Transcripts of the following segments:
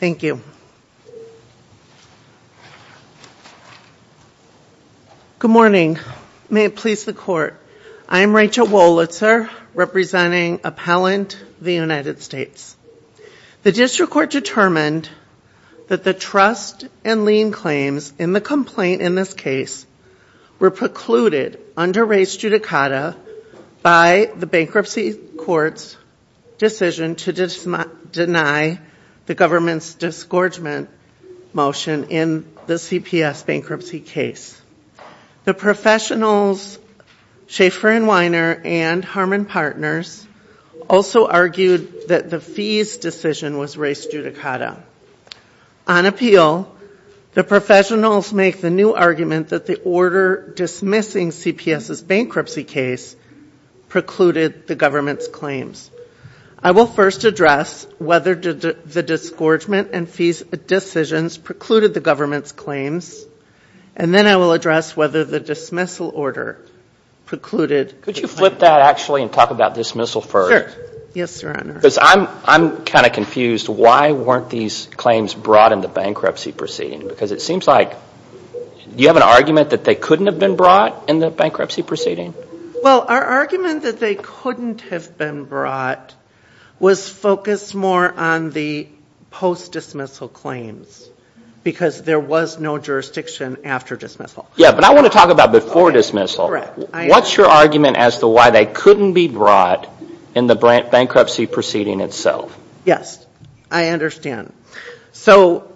Thank you. Good morning. May it please the Court. I am Rachel Wolitzer, representing Appellant, the United States. The District Court determined that the trust and lien claims in the complaint in this case were precluded under race judicata by the Bankruptcy Court's decision to deny the government's disgorgement motion in the CPS bankruptcy case. The professionals Schafer and Weiner and Harmon Partners also argued that the fees decision was race judicata. On appeal, the professionals make the new argument that the order dismissing CPS's bankruptcy case precluded the government's claims. I will first address whether the disgorgement and fees decisions precluded the government's claims, and then I will address whether the dismissal order precluded the claim. Could you flip that actually and talk about dismissal first? Sure. Yes, Your Honor. Because I'm kind of confused. Why weren't these claims brought in the bankruptcy proceeding? Because it seems like you have an argument that they couldn't have been brought in the Well, our argument that they couldn't have been brought was focused more on the post-dismissal claims because there was no jurisdiction after dismissal. Yeah, but I want to talk about before dismissal. What's your argument as to why they couldn't be brought in the bankruptcy proceeding itself? Yes, I understand. So,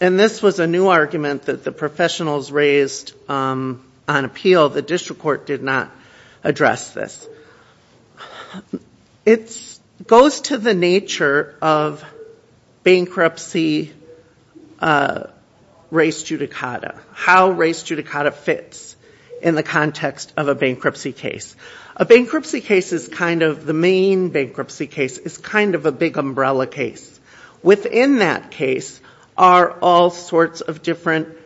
and this was a new argument that the professionals raised on address this. It goes to the nature of bankruptcy, race judicata, how race judicata fits in the context of a bankruptcy case. A bankruptcy case is kind of the main bankruptcy case is kind of a big umbrella case. Within that case are all sorts of different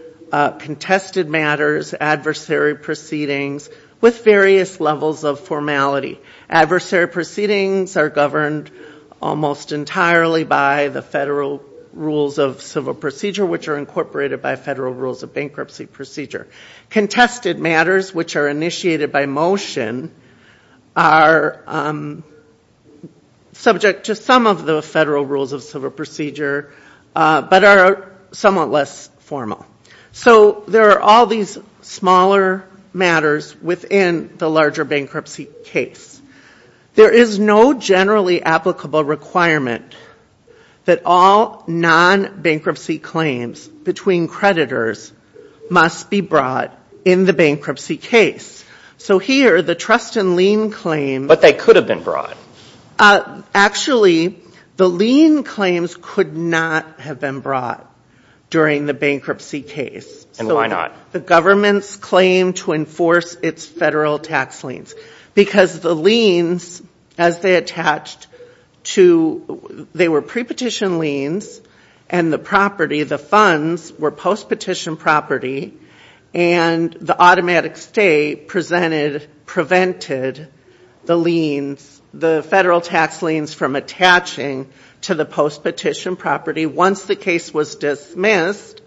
contested matters, adversarial proceedings with various levels of formality. Adversarial proceedings are governed almost entirely by the federal rules of civil procedure, which are incorporated by federal rules of bankruptcy procedure. Contested matters, which are initiated by motion, are subject to some of the federal rules of civil procedure, but are somewhat less formal. So there are all these smaller matters within the larger bankruptcy case. There is no generally applicable requirement that all non-bankruptcy claims between creditors must be brought in the bankruptcy case. So here, the trust and lien claim... But they could have been brought. Actually, the lien claims could not have been brought during the bankruptcy case. And why not? The government's claim to enforce its federal tax liens. Because the liens, as they attached to, they were pre-petition liens, and the property, the funds, were post-petition property, and the automatic stay prevented the federal tax liens from attaching to the post-petition property. Once the case was dismissed,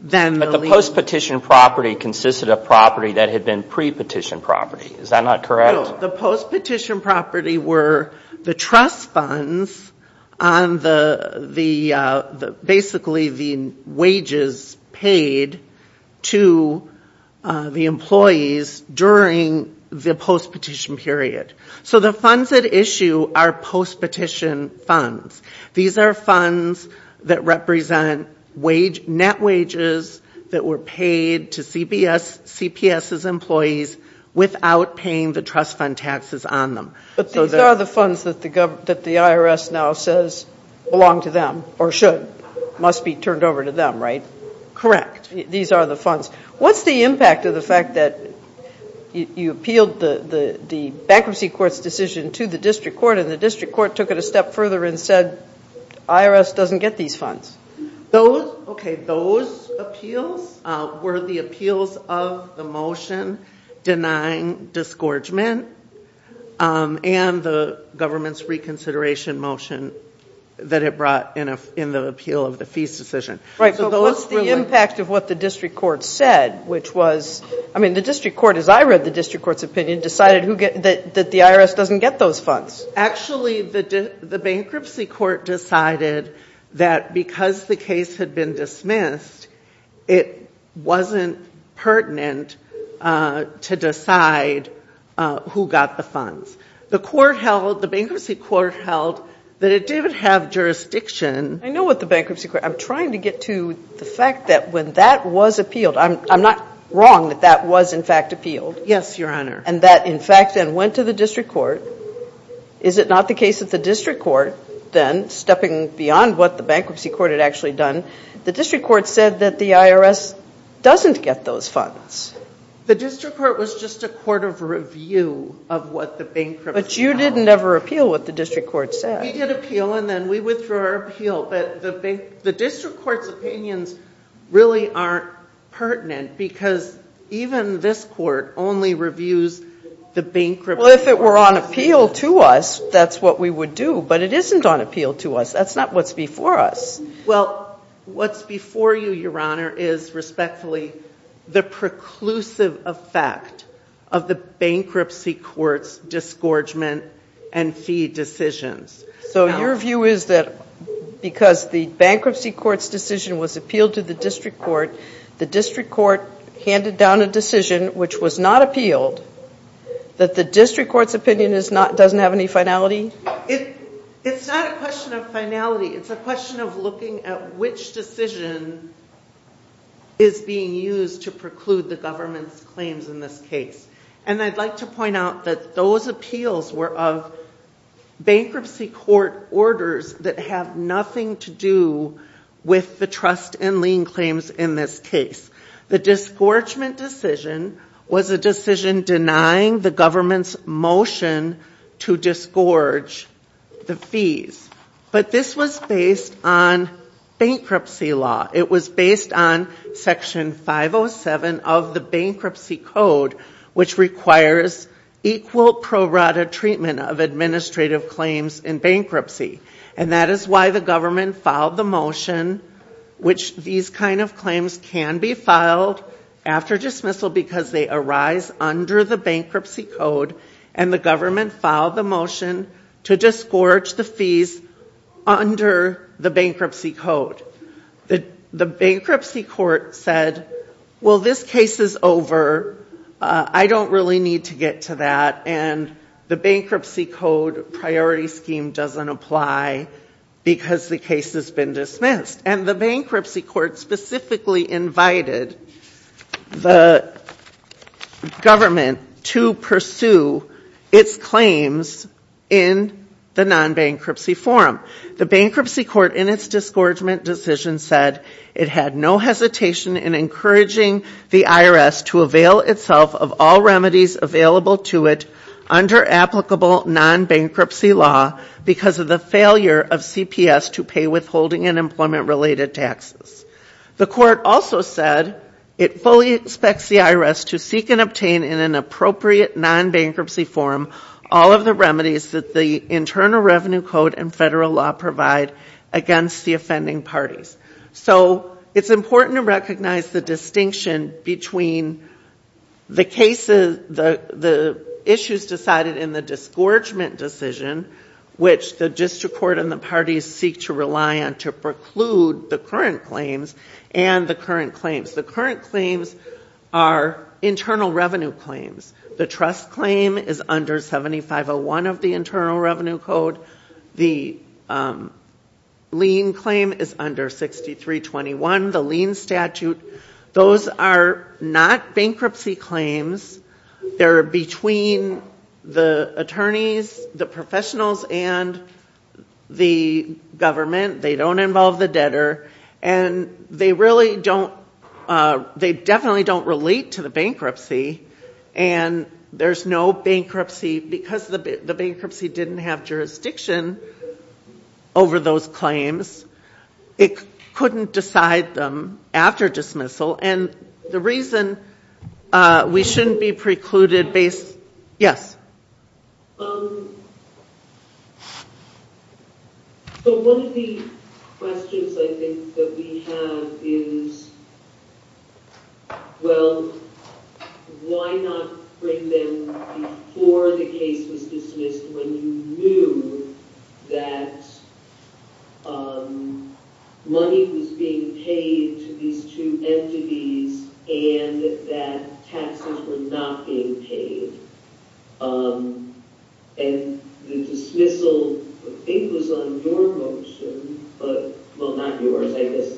then the lien... But the post-petition property consisted of property that had been pre-petition property. Is that not correct? No. The post-petition property were the trust funds on the, basically the wages paid to the employees during the post-petition period. So the funds at issue are post-petition funds. These are funds that represent net wages that were paid to CPS's employees without paying the trust fund taxes on them. But these are the funds that the IRS now says belong to them, or should, must be turned over to them, right? Correct. These are the funds. What's the impact of the fact that you appealed the bankruptcy court's decision to the district court, and the district court took it a step further and said, IRS doesn't get these funds? Those, okay, those appeals were the appeals of the motion denying disgorgement, and the government's reconsideration motion that it brought in the appeal of the fees decision. Right. So what's the impact of what the district court said, which was, I mean, the district court, as I read the district court's opinion, decided that the IRS doesn't get those funds. Actually the bankruptcy court decided that because the case had been dismissed, it wasn't pertinent to decide who got the funds. The bankruptcy court held that it didn't have jurisdiction. I know what the bankruptcy court, I'm trying to get to the fact that when that was appealed, I'm not wrong that that was in fact appealed. Yes, your honor. And that in fact then went to the district court. Is it not the case that the district court then, stepping beyond what the bankruptcy court had actually done, the district court said that the IRS doesn't get those funds? The district court was just a court of review of what the bankruptcy court said. But you didn't ever appeal what the district court said. We did appeal and then we withdrew our appeal, but the district court's opinions really aren't pertinent because even this court only reviews the bankruptcy court's opinion. Well, if it were on appeal to us, that's what we would do, but it isn't on appeal to us. That's not what's before us. Well, what's before you, your honor, is respectfully the preclusive effect of the bankruptcy court's decision. So your view is that because the bankruptcy court's decision was appealed to the district court, the district court handed down a decision which was not appealed, that the district court's opinion doesn't have any finality? It's not a question of finality. It's a question of looking at which decision is being used to preclude the government's claims in this case. And I'd like to point out that those are district court orders that have nothing to do with the trust and lien claims in this case. The disgorgement decision was a decision denying the government's motion to disgorge the fees. But this was based on bankruptcy law. It was based on Section 507 of the Bankruptcy Code, which requires equal pro rata treatment of administrative claims in bankruptcy. And that is why the government filed the motion, which these kind of claims can be filed after dismissal because they arise under the Bankruptcy Code, and the government filed the motion to disgorge the fees under the Bankruptcy Code. The Bankruptcy Court said, well this case is over, I don't really need to get to that, and the Bankruptcy Code priority scheme doesn't apply because the case has been dismissed. And the Bankruptcy Court specifically invited the government to pursue its claims in the case. The disgorgement decision said it had no hesitation in encouraging the IRS to avail itself of all remedies available to it under applicable non-bankruptcy law because of the failure of CPS to pay withholding and employment related taxes. The court also said it fully expects the IRS to seek and obtain in an appropriate non-bankruptcy form all of the remedies that the Internal Revenue Code and federal law provide against the offending parties. So it's important to recognize the distinction between the cases, the issues decided in the disgorgement decision, which the district court and the parties seek to rely on to preclude the current claims, and the current claims. The current claims are internal revenue claims. The trust claim is under 7501 of the Internal Revenue Code. The lien claim is under 6321, the lien statute. Those are not bankruptcy claims. They're between the attorneys, the professionals, and the government. They don't involve the debtor. And they really don't, they definitely don't relate to the bankruptcy. And there's no bankruptcy, because the bankruptcy didn't have jurisdiction over those claims. It couldn't decide them after dismissal. And the reason we shouldn't be precluded based, yes? So one of the questions I think that we have is, well, why not bring them before the case was dismissed when you knew that money was being paid to these two entities and that the dismissal, I think, was on your motion. Well, not yours, I guess.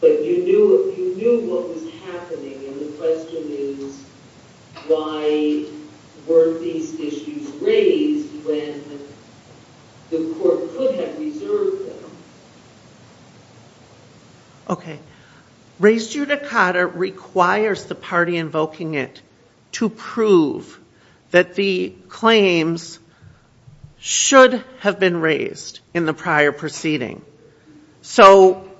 But you knew what was happening, and the question is, why weren't these issues raised when the court could have reserved them? Okay. Raised judicata requires the party invoking it to prove that the claims should have been raised in the prior proceeding. So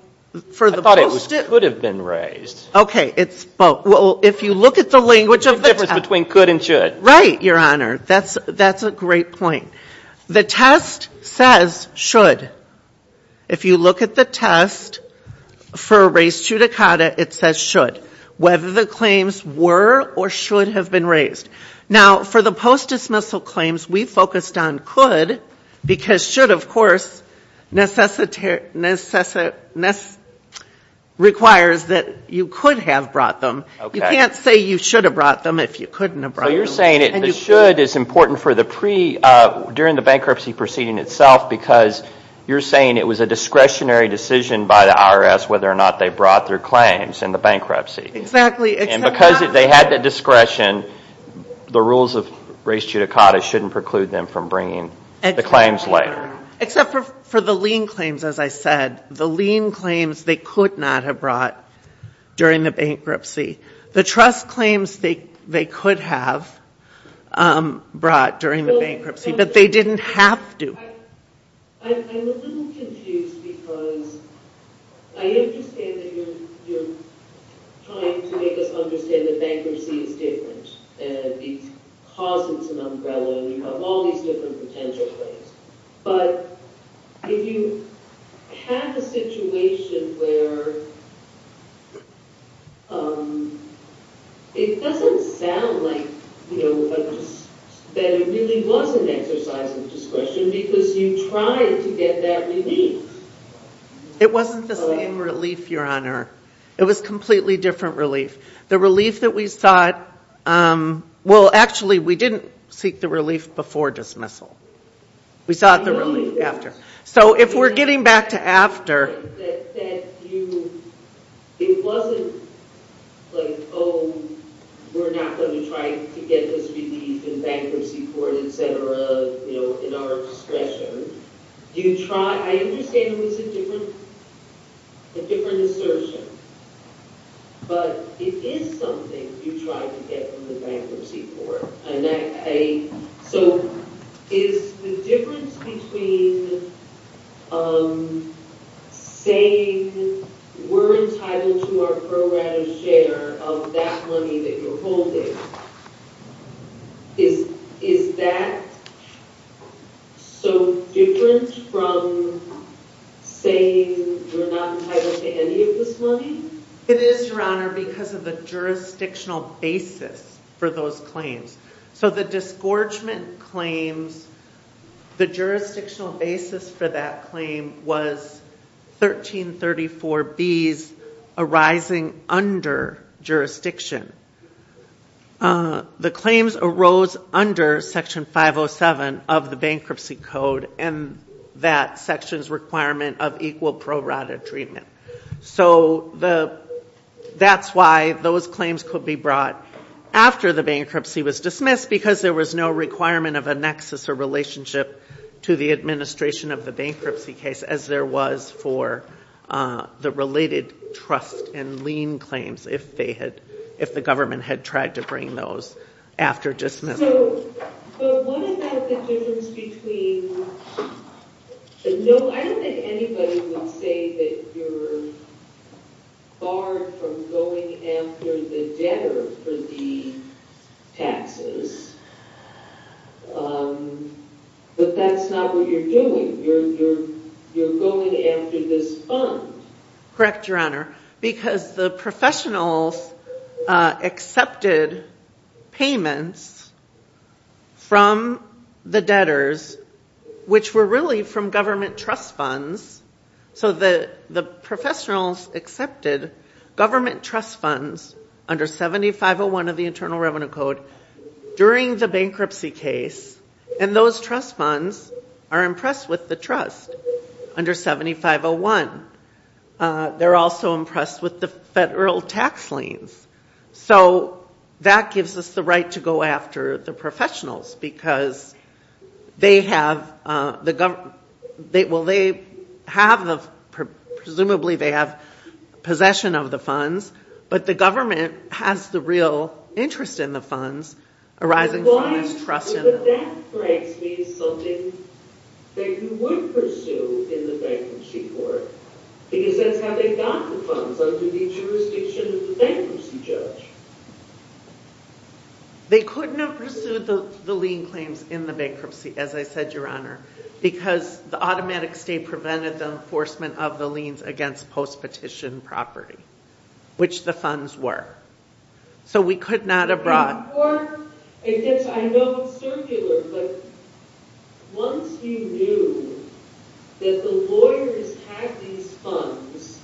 for the most part, it could have been raised. Okay. If you look at the language of the test. There's a difference between could and should. Right, Your Honor. That's a great point. The test says should. If you look at the test for raised judicata, it says should. Whether the claims were or should have been raised. Now, for the post-dismissal claims, we focused on could, because should, of course, requires that you could have brought them. You can't say you should have brought them if you couldn't have brought them. But should is important during the bankruptcy proceeding itself because you're saying it was a discretionary decision by the IRS whether or not they brought their claims in the bankruptcy. Exactly. And because they had the discretion, the rules of raised judicata shouldn't preclude them from bringing the claims later. Except for the lien claims, as I said. The lien claims they could not have brought during the bankruptcy. The trust claims they could have brought during the bankruptcy, but they didn't have to. I'm a little confused because I understand that you're trying to make us understand that bankruptcy is different and it causes an umbrella and you have all these different potential claims. But if you have a situation where, you know, if you have a situation where, you know, the bankruptcy is different, it doesn't sound like, you know, that it really was an exercise of discretion because you tried to get that relief. It wasn't the same relief, Your Honor. It was completely different relief. The relief that we sought, well, actually, we didn't seek the relief before dismissal. We sought the relief after. So if we're getting back to after. That you, it wasn't like, oh, we're not going to try to get this relief in bankruptcy court, et cetera, you know, in our discretion. You try, I understand it was a different, a different assertion, but it is something you tried to get from the bankruptcy court. So is the difference between saying we're entitled to our pro rata share of that money that you're holding, is that so different from saying we're not entitled to any of this money? It is, Your Honor, because of the jurisdictional basis for those claims. So the disgorgement claims, the jurisdictional basis for that claim was 1334B's arising under jurisdiction. The claims arose under Section 507 of the Bankruptcy Code and that section's requirement of equal pro rata treatment. So that's why those claims could be brought after the bankruptcy was dismissed because there was no requirement of a nexus or relationship to the administration of the bankruptcy case as there was for the related trust and lien claims if they had, if the government had tried to bring those after dismissal. So what about the difference between, I don't think anybody would say that you're barred from going after the debtor for the taxes, but that's not what you're doing. You're going after this fund. Correct, Your Honor, because the professionals accepted payments from the debtors, which were really from government trust funds. So the professionals accepted government trust funds under 7501 of the Internal Revenue Code during the bankruptcy case and those trust funds, they're also impressed with the federal tax liens. So that gives us the right to go after the professionals because they have, well, they have, presumably they have possession of the funds, but the government has the real interest in the funds arising from this trust But that strikes me as something that you would pursue in the bankruptcy court because that's how they got the funds, under the jurisdiction of the bankruptcy judge. They couldn't have pursued the lien claims in the bankruptcy, as I said, Your Honor, because the automatic stay prevented the enforcement of the liens against post-petition property, which the funds were. So we could not have brought... In court, I guess I know it's circular, but once you knew that the lawyers had these funds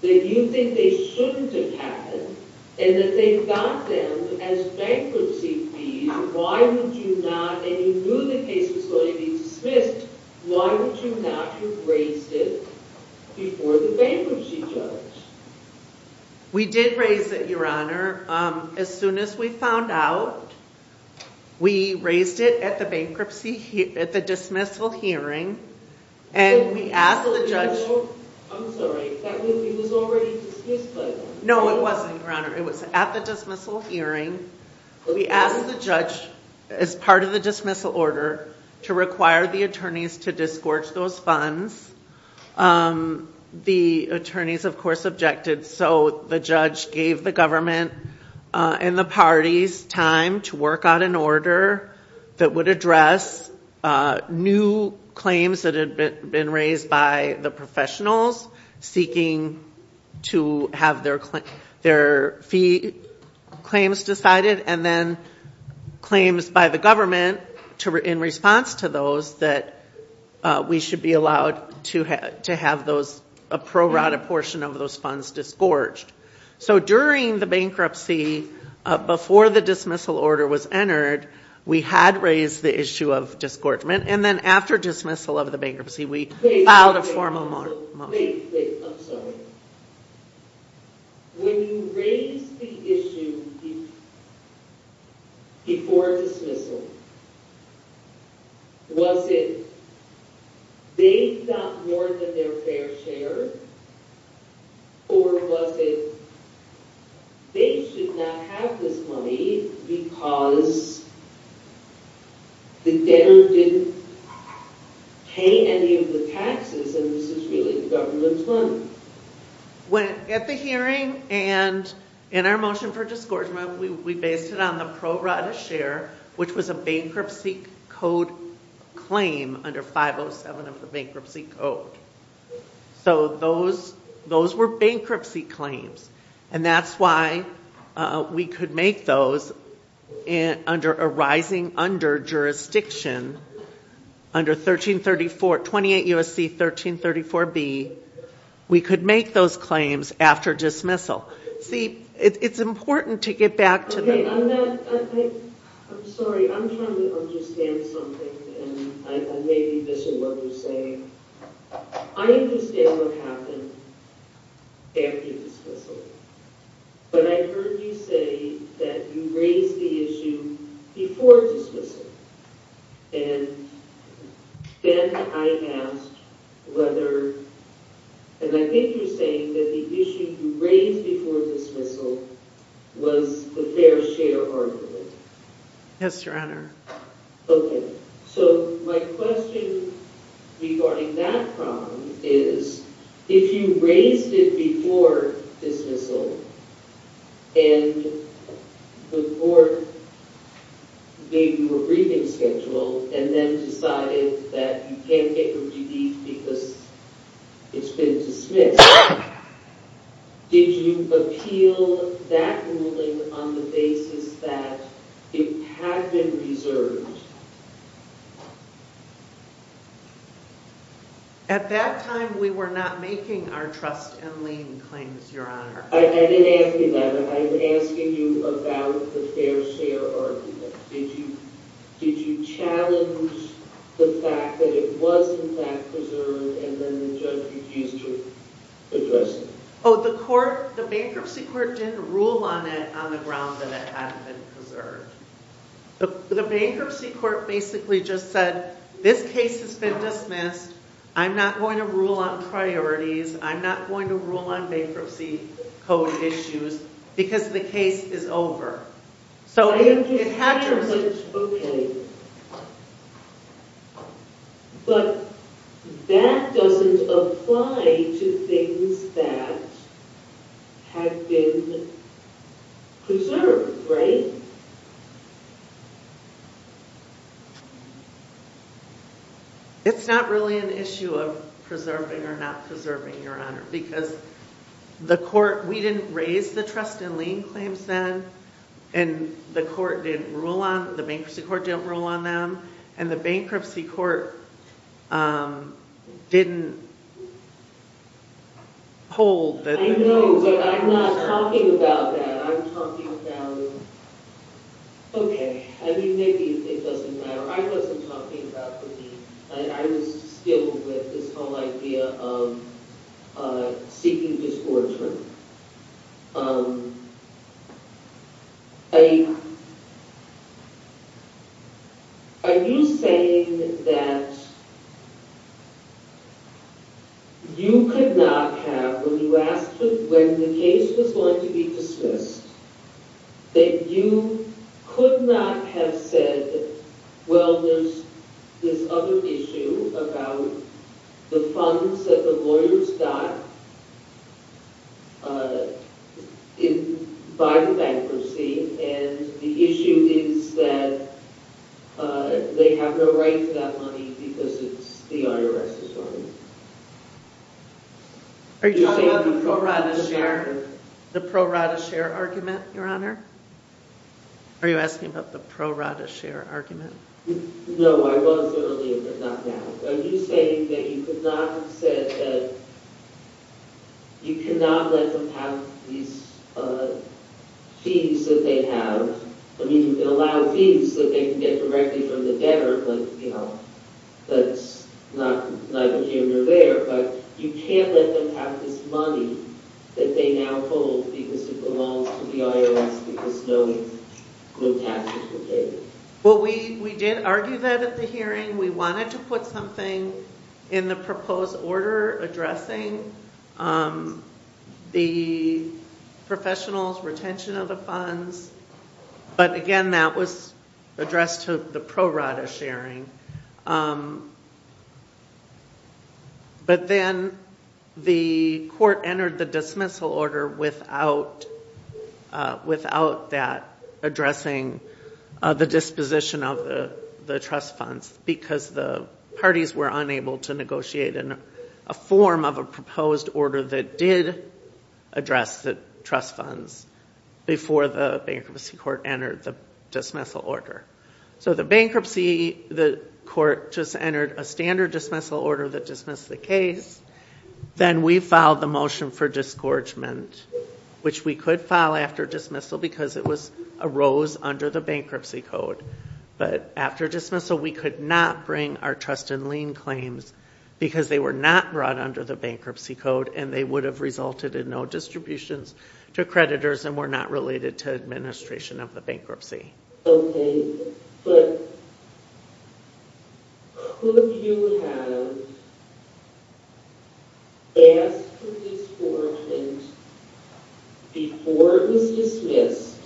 that you think they shouldn't have had and that they got them as bankruptcy fees, why would you not, and you knew the case was going to be dismissed, why would you not have raised it before the bankruptcy judge? We did raise it, Your Honor. As soon as we found out, we raised it at the bankruptcy, at the dismissal hearing, and we asked the judge... I'm sorry, it was already dismissed, but... No, it wasn't, Your Honor. It was at the dismissal hearing. We asked the judge, as part of the The attorneys, of course, objected, so the judge gave the government and the parties time to work out an order that would address new claims that had been raised by the professionals seeking to have their fee claims decided and then claims by the government in response to those that we should be allowed to have a prorouted portion of those funds disgorged. So during the bankruptcy, before the dismissal order was entered, we had raised the issue of disgorgement, and then after dismissal of the bankruptcy, we filed a formal motion. I'm sorry. When you raised the issue before dismissal, was it they got more than their fair share, or was it they should not have this money because the debtor didn't pay any of the taxes and this is really the government's money? At the hearing and in our motion for disgorgement, we based it on the prorouted share, which was a bankruptcy code claim under 507 of the bankruptcy code. So those were bankruptcy claims, and that's why we could make those under a rising under jurisdiction under 1334, 28 U.S.C. 1334B, we could make those claims after dismissal. See, it's important to get back to the... Okay. I'm sorry. I'm trying to understand something, and I may be missing what you're saying. I understand what happened after dismissal, but I heard you say that you raised the issue before dismissal, and then I asked whether, and I think you're saying that the issue you raised before dismissal was the fair share argument. Yes, Your Honor. Okay. So my question regarding that problem is, if you raised it before dismissal and the court made you a briefing schedule and then decided that you can't get your PD because it's been dismissed, did you appeal that ruling on the basis that it had been reserved? At that time, we were not making our trust and lien claims, Your Honor. I didn't ask you that. I'm asking you about the fair share argument. Did you challenge the fact that it was, in fact, preserved, and then the judge refused to address it? Oh, the bankruptcy court didn't rule on it on the grounds that it hadn't been preserved. The bankruptcy court basically just said, this case has been dismissed. I'm not going to rule on priorities. I'm not going to rule on bankruptcy code issues because the case is over. Okay. But that doesn't apply to things that have been preserved, right? It's not really an issue of preserving or not preserving, Your Honor, because the court, we didn't raise the trust and lien claims then, and the bankruptcy court didn't rule on them, and the bankruptcy court didn't hold the claims. I know, but I'm not talking about that. I'm talking about, okay, maybe it doesn't matter. I wasn't talking about the lien. I was still with this whole idea of seeking disorder. Are you saying that you could not have, when the case was going to be dismissed, that you could not have said, well, there's this other issue about the funds that the lawyers got by the bankruptcy, and the issue is that they have no right to that money because it's the IRS's money? Are you talking about the pro rata share argument, Your Honor? Are you asking about the pro rata share argument? No, I was earlier, but not now. Are you saying that you could not have said that you could not let them have these fees that they have? I mean, you could allow fees that they can get directly from the debtor, but that's neither here nor there, but you can't let them have this money that they now hold because it belongs to the IRS because no taxes were paid? Well, we did argue that at the hearing. We wanted to put something in the proposed order addressing the professional's retention of the funds, but again, that was addressed to the pro rata sharing, but then the court entered the dismissal order without that, addressing the disposition of the trust funds because the parties were unable to negotiate a form of a proposed order that did address the trust funds before the bankruptcy court entered the dismissal order. So the bankruptcy, the court just entered a standard dismissal order that dismissed the case. Then we filed the motion for disgorgement, which we could file after dismissal because it arose under the bankruptcy code, but after dismissal we could not bring our trust and lien claims because they were not brought under the bankruptcy code and they would have resulted in no distributions to creditors and were not related to administration of the bankruptcy. Okay, but could you have asked for disgorgement before it was dismissed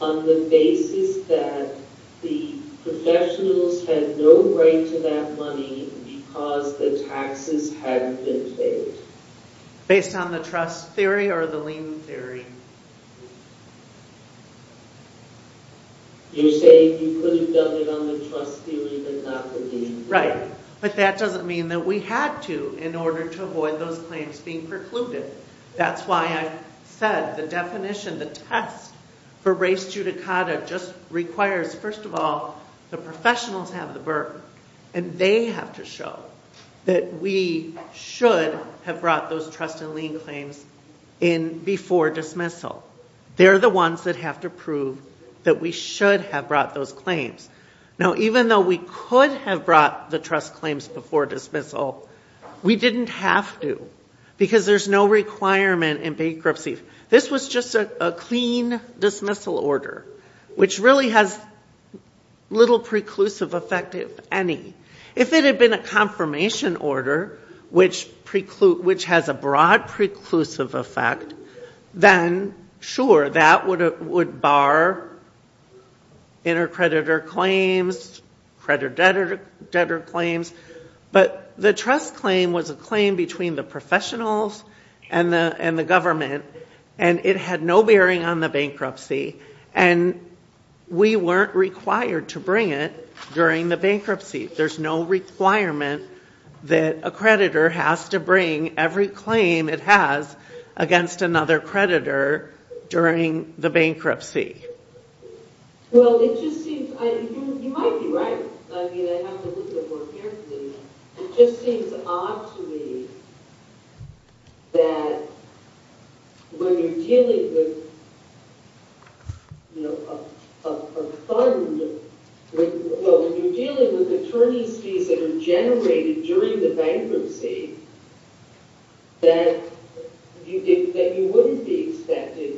on the basis that the professionals had no right to that money because the taxes hadn't been paid? Based on the trust theory or the lien theory? Right, but that doesn't mean that we had to in order to avoid those claims being precluded. That's why I said the definition, the test for race judicata just requires, first of all, the professionals have the burden and they have to show that we should have brought those trust and lien claims in before dismissal. They're the ones that have to prove that we should have brought those claims. Now even though we could have brought the trust claims before dismissal, we didn't have to because there's no requirement in bankruptcy. This was just a clean dismissal order, which really has little preclusive effect, if any. If it had been a confirmation order, which has a broad preclusive effect, then sure, that would bar inter-creditor claims, credit debtor claims, but the trust claim was a claim between the professionals and the government and it had no bearing on the bankruptcy and we weren't required to bring it during the bankruptcy. There's no requirement that a creditor has to bring every claim it has against another creditor during the bankruptcy. Well, it just seems odd to me that when you're dealing with attorneys fees that are generated during the bankruptcy that you wouldn't be expected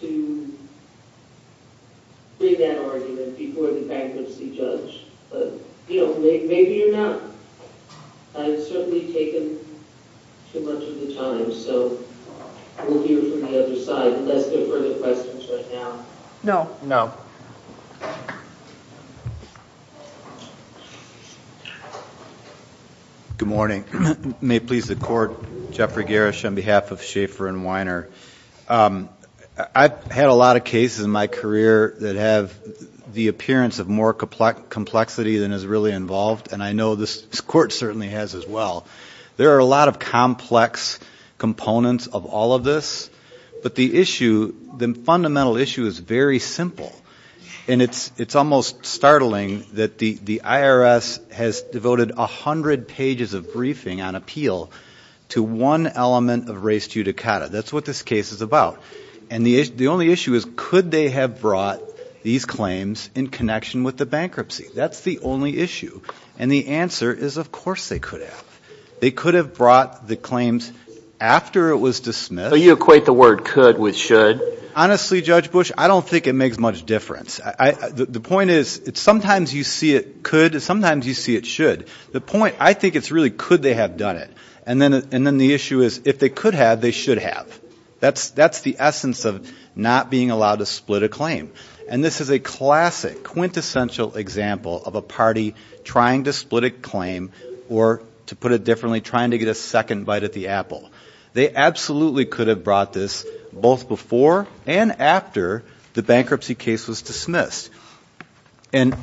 to bring that argument before the bankruptcy judge. Maybe you're not. I've certainly taken too much of the time, so we'll hear from the other side unless there are further questions right now. No. Good morning. May it please the court, Jeffrey Garish on behalf of Schaefer and Weiner. I've had a lot of cases in my career that have the appearance of more complexity than is really involved and I know this court certainly has as well. There are a lot of complex components of all of this, but the issue, the fundamental issue is very simple and it's almost startling that the IRS has devoted a hundred pages of briefing on appeal to one element of race judicata. That's what this case is about and the only issue is could they have brought these claims in connection with the bankruptcy? That's the only issue and the answer is of course they could have. They could have brought the claims after it was dismissed. So you equate the word could with should? Honestly, Judge Bush, I don't think it makes much difference. The point is sometimes you see it could and sometimes you see it should. The point, I think it's really could they have done it and then the issue is if they could have, they should have. That's the essence of not being allowed to split a claim and this is a classic quintessential example of a party trying to split a claim or to put it differently, trying to get a second bite at the apple. They absolutely could have brought this both before and after the bankruptcy case was dismissed. And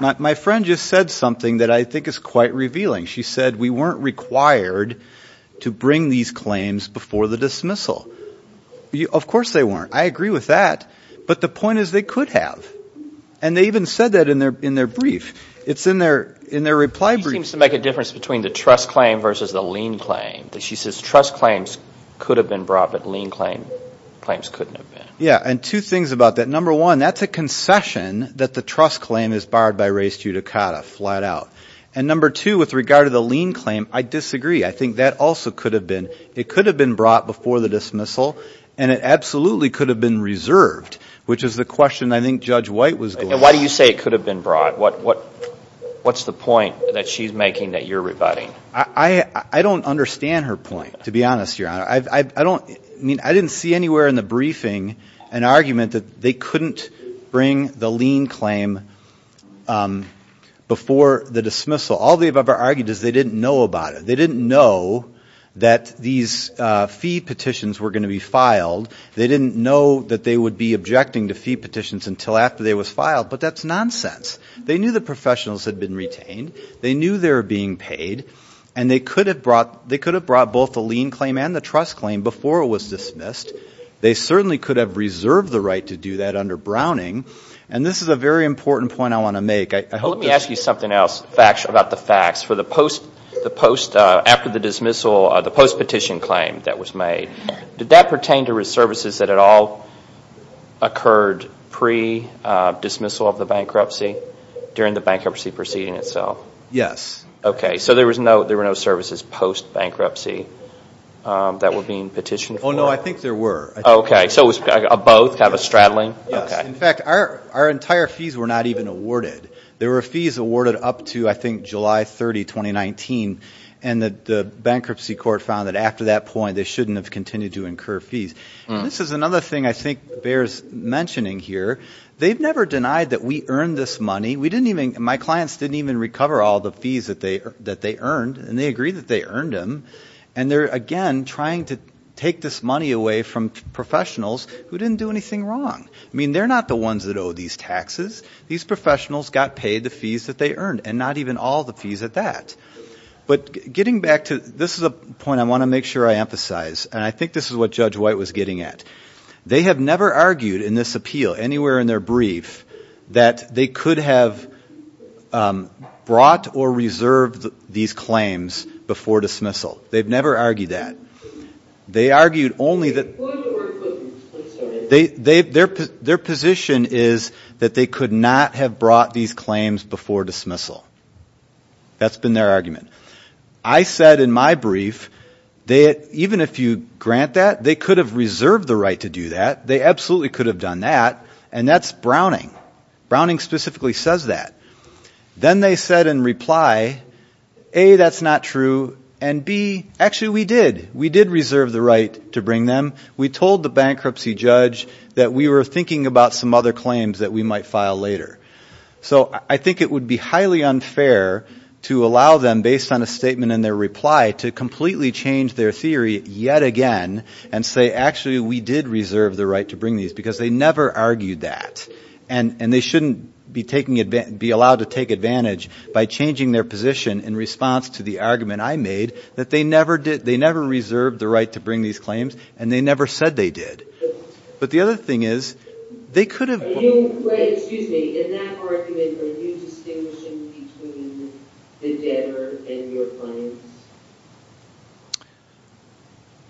my friend just said something that I think is quite revealing. She said we weren't required to bring these claims before the dismissal. Of course they weren't. I agree with that, but the point is they could have and they even said that in their brief. It's in their reply brief. It seems to make a difference between the trust claim versus the lien claim. She says trust claims could have been brought, but lien claims couldn't have been. Yeah, and two things about that. Number one, that's a concession that the trust claim is barred by res judicata, flat out. And number two, with regard to the lien claim, I disagree. I think that also could have been. It could have been brought before the dismissal and it absolutely could have been reserved, which is the question I think Judge White was going after. And why do you say it could have been brought? What's the point that she's making that you're rebutting? I don't understand her point, to be honest, Your Honor. I didn't see anywhere in the briefing an argument that they couldn't bring the lien claim before the dismissal. All they've ever argued is they didn't know about it. They didn't know that these fee petitions were going to be filed. They didn't know that they would be objecting to fee petitions until after they was filed, but that's nonsense. They knew the professionals had been retained. They knew they were being paid. And they could have brought both the lien claim and the trust claim before it was dismissed. They certainly could have reserved the right to do that under Browning. And this is a very important point I want to make. Let me ask you something else about the facts. For the post, after the dismissal, the post-petition claim that was made, did that pertain to services that had all occurred pre-dismissal of the bankruptcy during the bankruptcy proceeding itself? Yes. Okay, so there were no services post-bankruptcy that were being petitioned for? Oh, no, I think there were. Okay, so it was both, kind of a straddling? Yes, in fact, our entire fees were not even awarded. There were fees awarded up to, I think, July 30, 2019, and the bankruptcy court found that after that point they shouldn't have continued to incur fees. This is another thing I think bears mentioning here. They've never denied that we earned this money. We didn't even, my clients didn't even recover all the fees that they earned, and they agreed that they earned them. And they're, again, trying to take this money away from professionals who didn't do anything wrong. I mean, they're not the ones that owe these taxes. These professionals got paid the fees that they earned, and not even all the fees at that. But getting back to, this is a point I want to make sure I emphasize, and I think this is what Judge White was getting at. They have never argued in this appeal, anywhere in their brief, that they could have brought or reserved these claims before dismissal. They've never argued that. They argued only that, their position is that they could not have brought these claims before dismissal. That's been their argument. I said in my brief, even if you grant that, they could have reserved the right to do that. They absolutely could have done that, and that's Browning. Browning specifically says that. Then they said in reply, A, that's not true, and B, actually we did. We did reserve the right to bring them. We told the bankruptcy judge that we were thinking about some other claims that we might file later. So I think it would be highly unfair to allow them, based on a statement in their reply, to completely change their theory yet again and say, actually we did reserve the right to bring these, because they never argued that. And they shouldn't be allowed to take advantage by changing their position in response to the argument I made that they never reserved the right to bring these claims, and they never said they did. But the other thing is, they could have...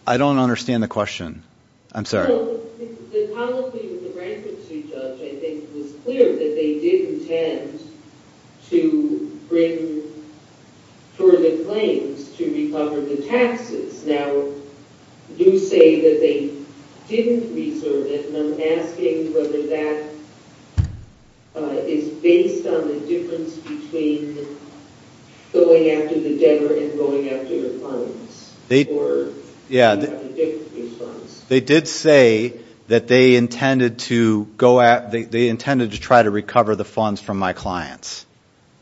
I don't understand the question. I'm sorry. I didn't reserve it, and I'm asking whether that is based on the difference between going after the debtor and going after the clients. They did say that they intended to try to recover the funds from my clients.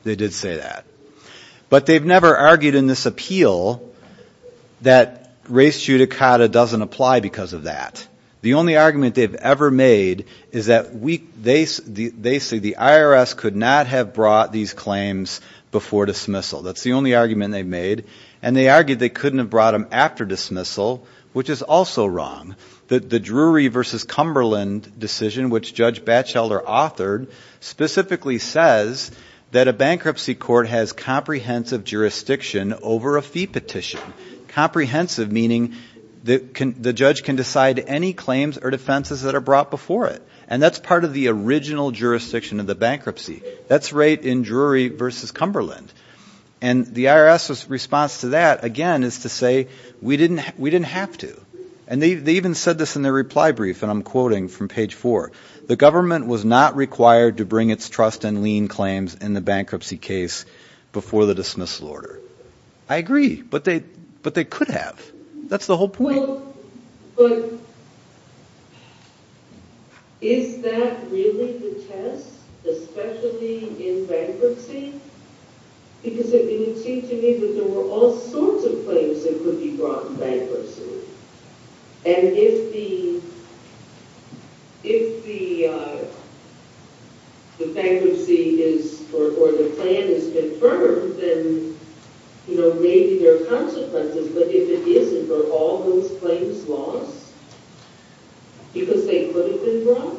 They did say that. But they've never argued in this appeal that race judicata doesn't apply because of that. The only argument they've ever made is that they say the IRS could not have brought these claims before dismissal. That's the only argument they've made. And they argued they couldn't have brought them after dismissal, which is also wrong. The Drury v. Cumberland decision, which Judge Batchelder authored, specifically says that a bankruptcy court has comprehensive jurisdiction over a fee petition. Comprehensive meaning the judge can decide any claims or defenses that are brought before it. And that's part of the original jurisdiction of the bankruptcy. That's right in Drury v. Cumberland. And the IRS's response to that, again, is to say we didn't have to. And they even said this in their reply brief, and I'm quoting from page four. The government was not required to bring its trust and lien claims in the bankruptcy case before the dismissal order. I agree, but they could have. That's the whole point. But is that really the test, especially in bankruptcy? Because it would seem to me that there were all sorts of claims that could be brought in bankruptcy. And if the bankruptcy or the plan is confirmed, then maybe there are consequences. But if it isn't, are all those claims lost? Because they could have been brought?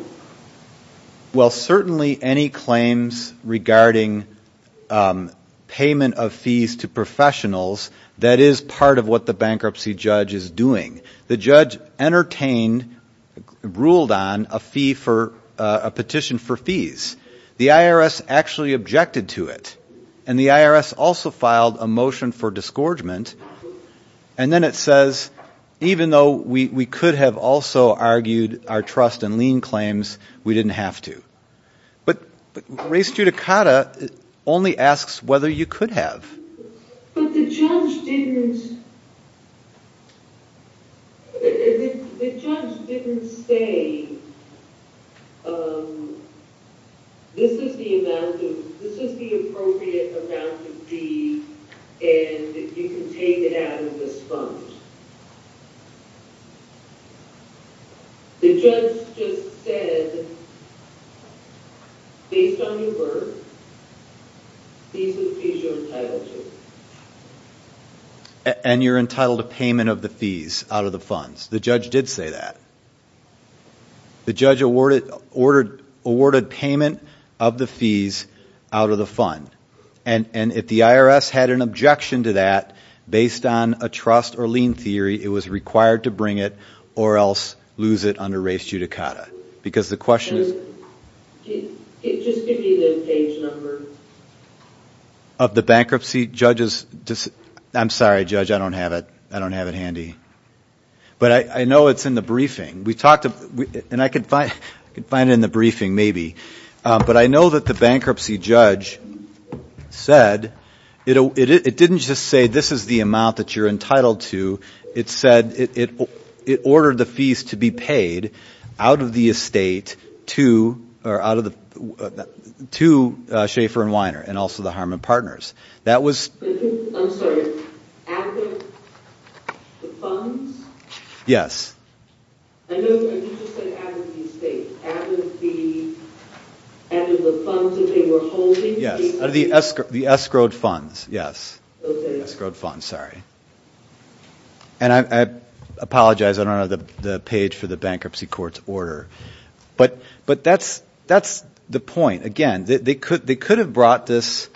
Well, certainly any claims regarding payment of fees to professionals, that is part of what the bankruptcy judge is doing. The judge entertained, ruled on, a petition for fees. The IRS actually objected to it. And the IRS also filed a motion for disgorgement. And then it says, even though we could have also argued our trust and lien claims, we didn't have to. But res judicata only asks whether you could have. But the judge didn't... The judge didn't say, this is the appropriate amount of fee and you can take it out of this fund. The judge just said, based on your work, these are the fees you're entitled to. And you're entitled to payment of the fees out of the funds. The judge did say that. The judge awarded payment of the fees out of the fund. And if the IRS had an objection to that, based on a trust or lien theory, it was required to bring it or else lose it under res judicata. Because the question is... Just give me the page number. Of the bankruptcy judge's... I'm sorry, judge, I don't have it handy. But I know it's in the briefing. And I could find it in the briefing, maybe. But I know that the bankruptcy judge said... It didn't just say, this is the amount that you're entitled to. It said it ordered the fees to be paid out of the estate to Schaefer & Weiner and also the Harmon Partners. That was... I'm sorry, out of the funds? Yes. I know you just said out of the estate. Out of the funds that they were holding? Yes, out of the escrowed funds. Yes, escrowed funds, sorry. And I apologize, I don't have the page for the bankruptcy court's order. But that's the point. Again, they could have brought this...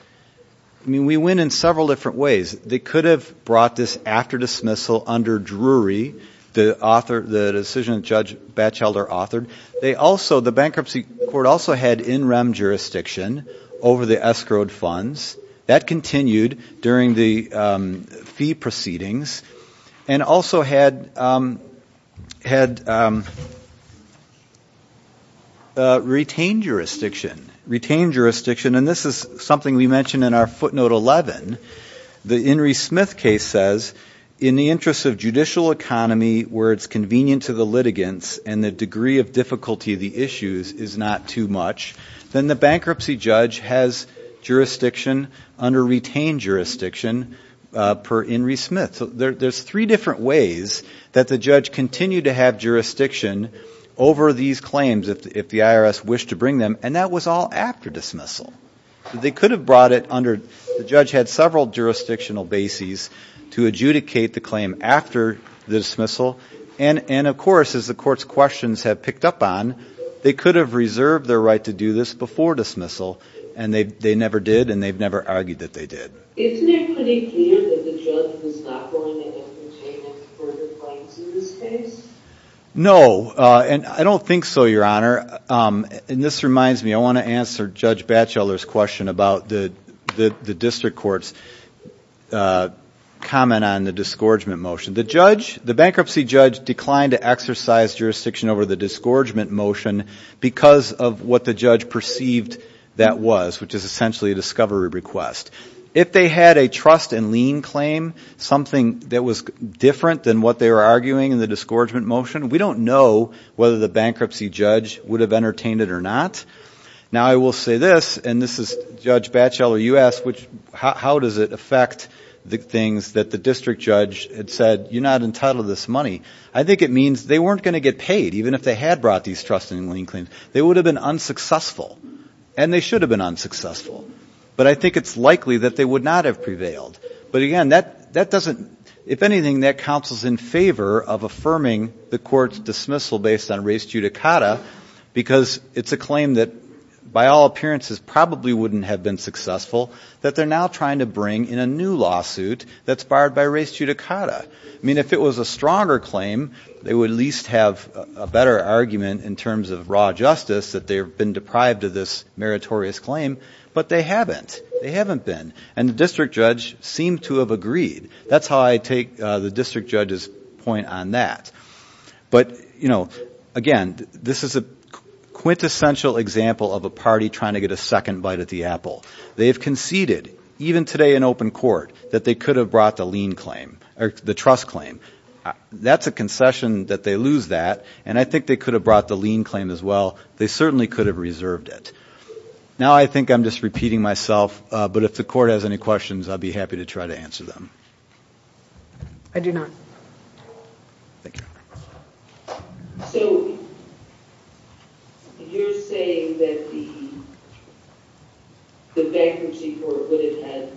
I mean, we win in several different ways. They could have brought this after dismissal under Drury. The decision that Judge Batchelder authored. The bankruptcy court also had in-rem jurisdiction over the escrowed funds. That continued during the fee proceedings. And also had retained jurisdiction. Retained jurisdiction, and this is something we mentioned in our footnote 11. The In re Smith case says, in the interest of judicial economy where it's convenient to the litigants and the degree of difficulty of the issues is not too much, then the bankruptcy judge has jurisdiction under retained jurisdiction per In re Smith. So there's three different ways that the judge continued to have jurisdiction over these claims if the IRS wished to bring them, and that was all after dismissal. They could have brought it under... The judge had several jurisdictional bases to adjudicate the claim after the dismissal. And of course, as the court's questions have picked up on, they could have reserved their right to do this before dismissal. And they never did, and they've never argued that they did. No, and I don't think so, Your Honor. And this reminds me, I want to answer Judge Batchelor's question about the district court's comment on the disgorgement motion. The bankruptcy judge declined to exercise jurisdiction over the disgorgement motion because of what the judge perceived that was, which is essentially a discovery request. If they had a trust and lien claim, something that was different than what they were arguing in the disgorgement motion, we don't know whether the bankruptcy judge would have entertained it or not. Now, I will say this, and this is, Judge Batchelor, you asked how does it affect the things that the district judge had said, you're not entitled to this money. I think it means they weren't going to get paid, even if they had brought these trust and lien claims. They would have been unsuccessful, and they should have been unsuccessful. But I think it's likely that they would not have prevailed. But, again, that doesn't, if anything, that counsel's in favor of affirming the court's dismissal based on res judicata because it's a claim that by all appearances probably wouldn't have been successful that they're now trying to bring in a new lawsuit that's barred by res judicata. I mean, if it was a stronger claim, they would at least have a better argument in terms of raw justice that they've been deprived of this meritorious claim. But they haven't. They haven't been. And the district judge seemed to have agreed. That's how I take the district judge's point on that. But, again, this is a quintessential example of a party trying to get a second bite at the apple. They have conceded, even today in open court, that they could have brought the trust claim. That's a concession that they lose that, and I think they could have brought the lien claim as well. They certainly could have reserved it. Now I think I'm just repeating myself, but if the court has any questions, I'd be happy to try to answer them. I do not. Thank you. So you're saying that the bankruptcy court would have had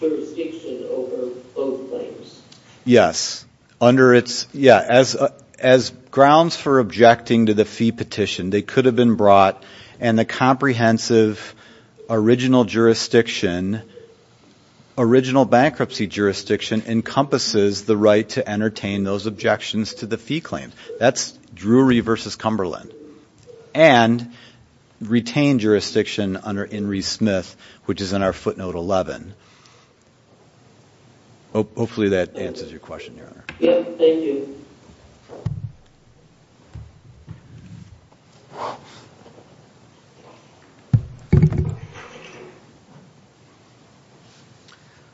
jurisdiction over both claims? Yes. As grounds for objecting to the fee petition, they could have been brought, and the comprehensive original jurisdiction, original bankruptcy jurisdiction, encompasses the right to entertain those objections to the fee claim. That's Drury v. Cumberland. And retained jurisdiction under Inree Smith, which is in our footnote 11. Hopefully that answers your question, Your Honor. Yes, thank you.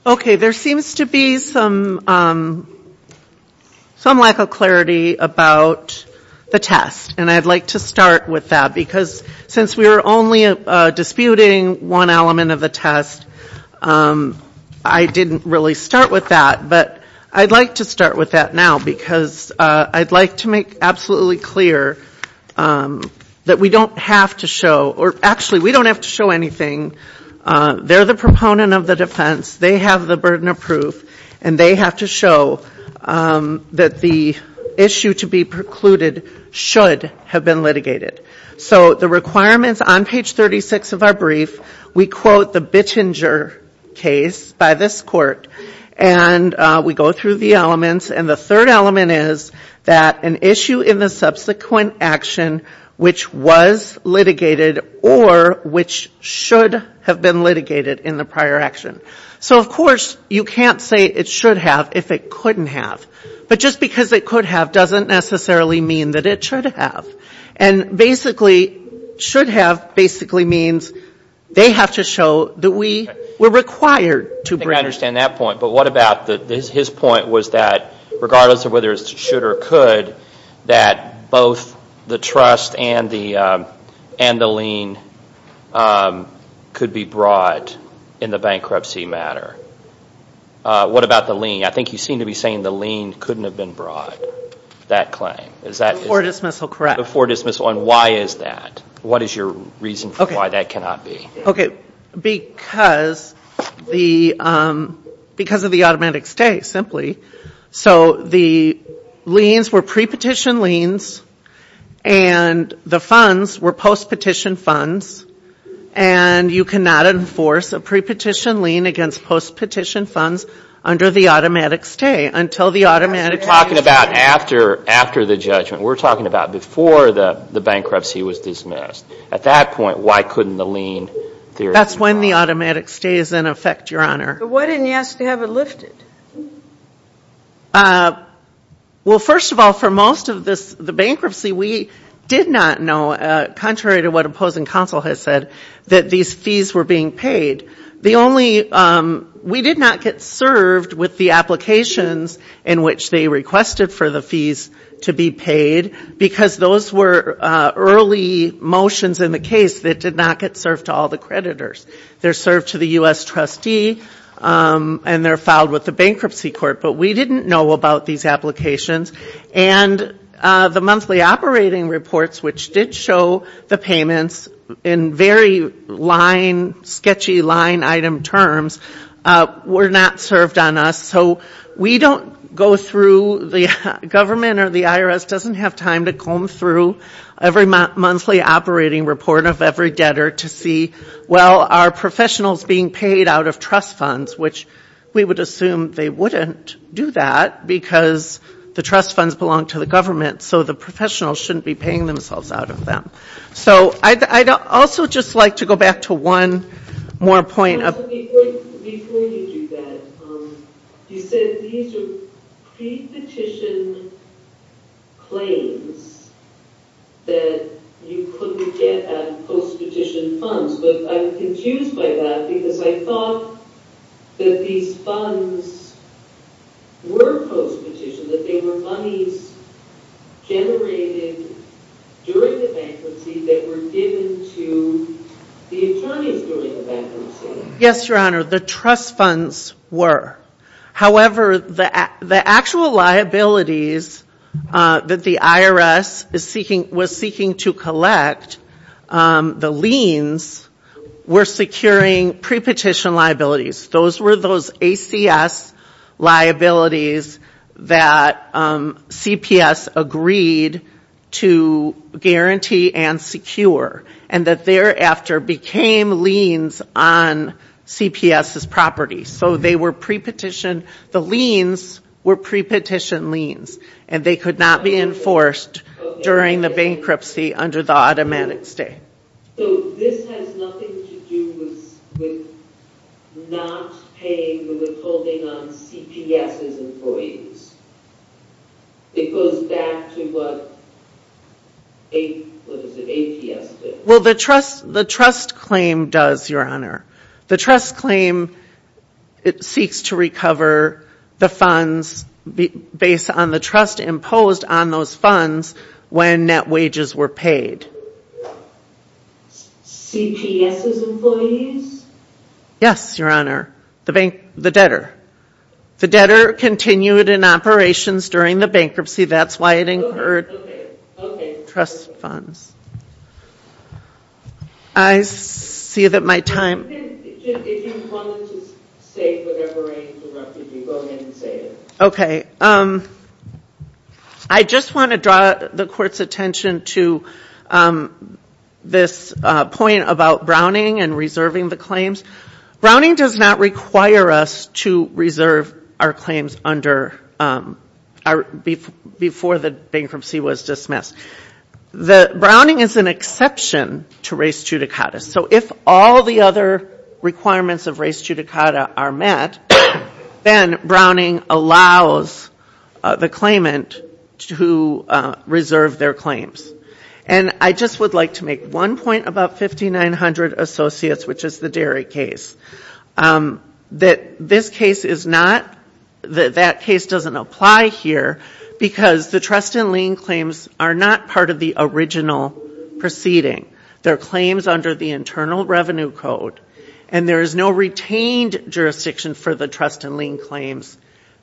Okay, there seems to be some lack of clarity about the test, and I'd like to start with that because since we were only disputing one element of the test, I didn't really start with that, but I'd like to start with that now because I'd like to make absolutely clear that we don't have to show, or actually we don't have to show anything. They're the proponent of the defense. They have the burden of proof, and they have to show that the issue to be precluded should have been litigated. So the requirements on page 36 of our brief, we quote the Bittinger case by this court, and we go through the elements. And the third element is that an issue in the subsequent action which was litigated or which should have been litigated in the prior action. So, of course, you can't say it should have if it couldn't have. But just because it could have doesn't necessarily mean that it should have. And basically, should have basically means they have to show that we were required to bring. I think I understand that point. But what about his point was that regardless of whether it's should or could, that both the trust and the lien could be brought in the bankruptcy matter. What about the lien? I think you seem to be saying the lien couldn't have been brought, that claim. Before dismissal, correct. Before dismissal. And why is that? What is your reason for why that cannot be? Okay. Because of the automatic stay, simply. So the liens were pre-petition liens, and the funds were post-petition funds, and you cannot enforce a pre-petition lien against post-petition funds under the automatic stay. We're talking about after the judgment. We're talking about before the bankruptcy was dismissed. At that point, why couldn't the lien? That's when the automatic stay is in effect, Your Honor. But why didn't he ask to have it lifted? Well, first of all, for most of the bankruptcy, we did not know, contrary to what opposing counsel has said, that these fees were being paid. We did not get served with the applications in which they requested for the fees to be paid, because those were early motions in the case that did not get served to all the creditors. They're served to the U.S. trustee, and they're filed with the bankruptcy court. But we didn't know about these applications. And the monthly operating reports, which did show the payments in very sketchy line-item terms, were not served on us. So we don't go through the government or the IRS doesn't have time to comb through every monthly operating report of every debtor to see, well, are professionals being paid out of trust funds, which we would assume they wouldn't do that, because the trust funds belong to the government, so the professionals shouldn't be paying themselves out of them. So I'd also just like to go back to one more point. Before you do that, you said these are pre-petition claims that you couldn't get out of post-petition funds. But I'm confused by that, because I thought that these funds were post-petition, that they were monies generated during the bankruptcy that were given to the attorneys during the bankruptcy. Yes, Your Honor, the trust funds were. However, the actual liabilities that the IRS was seeking to collect, the liens, were securing pre-petition liabilities. Those were those ACS liabilities that CPS agreed to guarantee and secure, and that thereafter became liens on CPS's property. So the liens were pre-petition liens, and they could not be enforced during the bankruptcy under the automatic stay. So this has nothing to do with not paying or withholding on CPS's employees. It goes back to what APS did. The trust claim seeks to recover the funds based on the trust imposed on those funds when net wages were paid. CPS's employees? Yes, Your Honor, the debtor. The debtor continued in operations during the bankruptcy. That's why it incurred trust funds. I see that my time... If you wanted to say whatever I interrupted you, go ahead and say it. Okay. I just want to draw the Court's attention to this point about Browning and reserving the claims. Browning does not require us to reserve our claims before the bankruptcy was dismissed. Browning is an exception to res judicata. So if all the other requirements of res judicata are met, then Browning allows the claimant to reserve their claims. And I just would like to make one point about 5900 Associates, which is the Derry case. That this case is not, that that case doesn't apply here because the trust and lien claims are not part of the original proceeding. They're claims under the Internal Revenue Code. And there is no retained jurisdiction for the trust and lien claims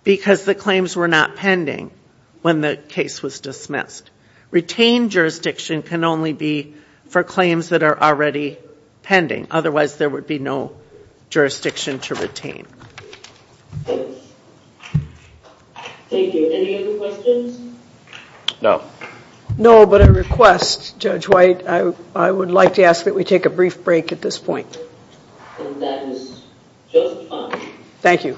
because the claims were not pending when the case was dismissed. Retained jurisdiction can only be for claims that are already pending. Otherwise, there would be no jurisdiction to retain. Thank you. Any other questions? No. No, but I request, Judge White, I would like to ask that we take a brief break at this point. And that is just fine. Thank you.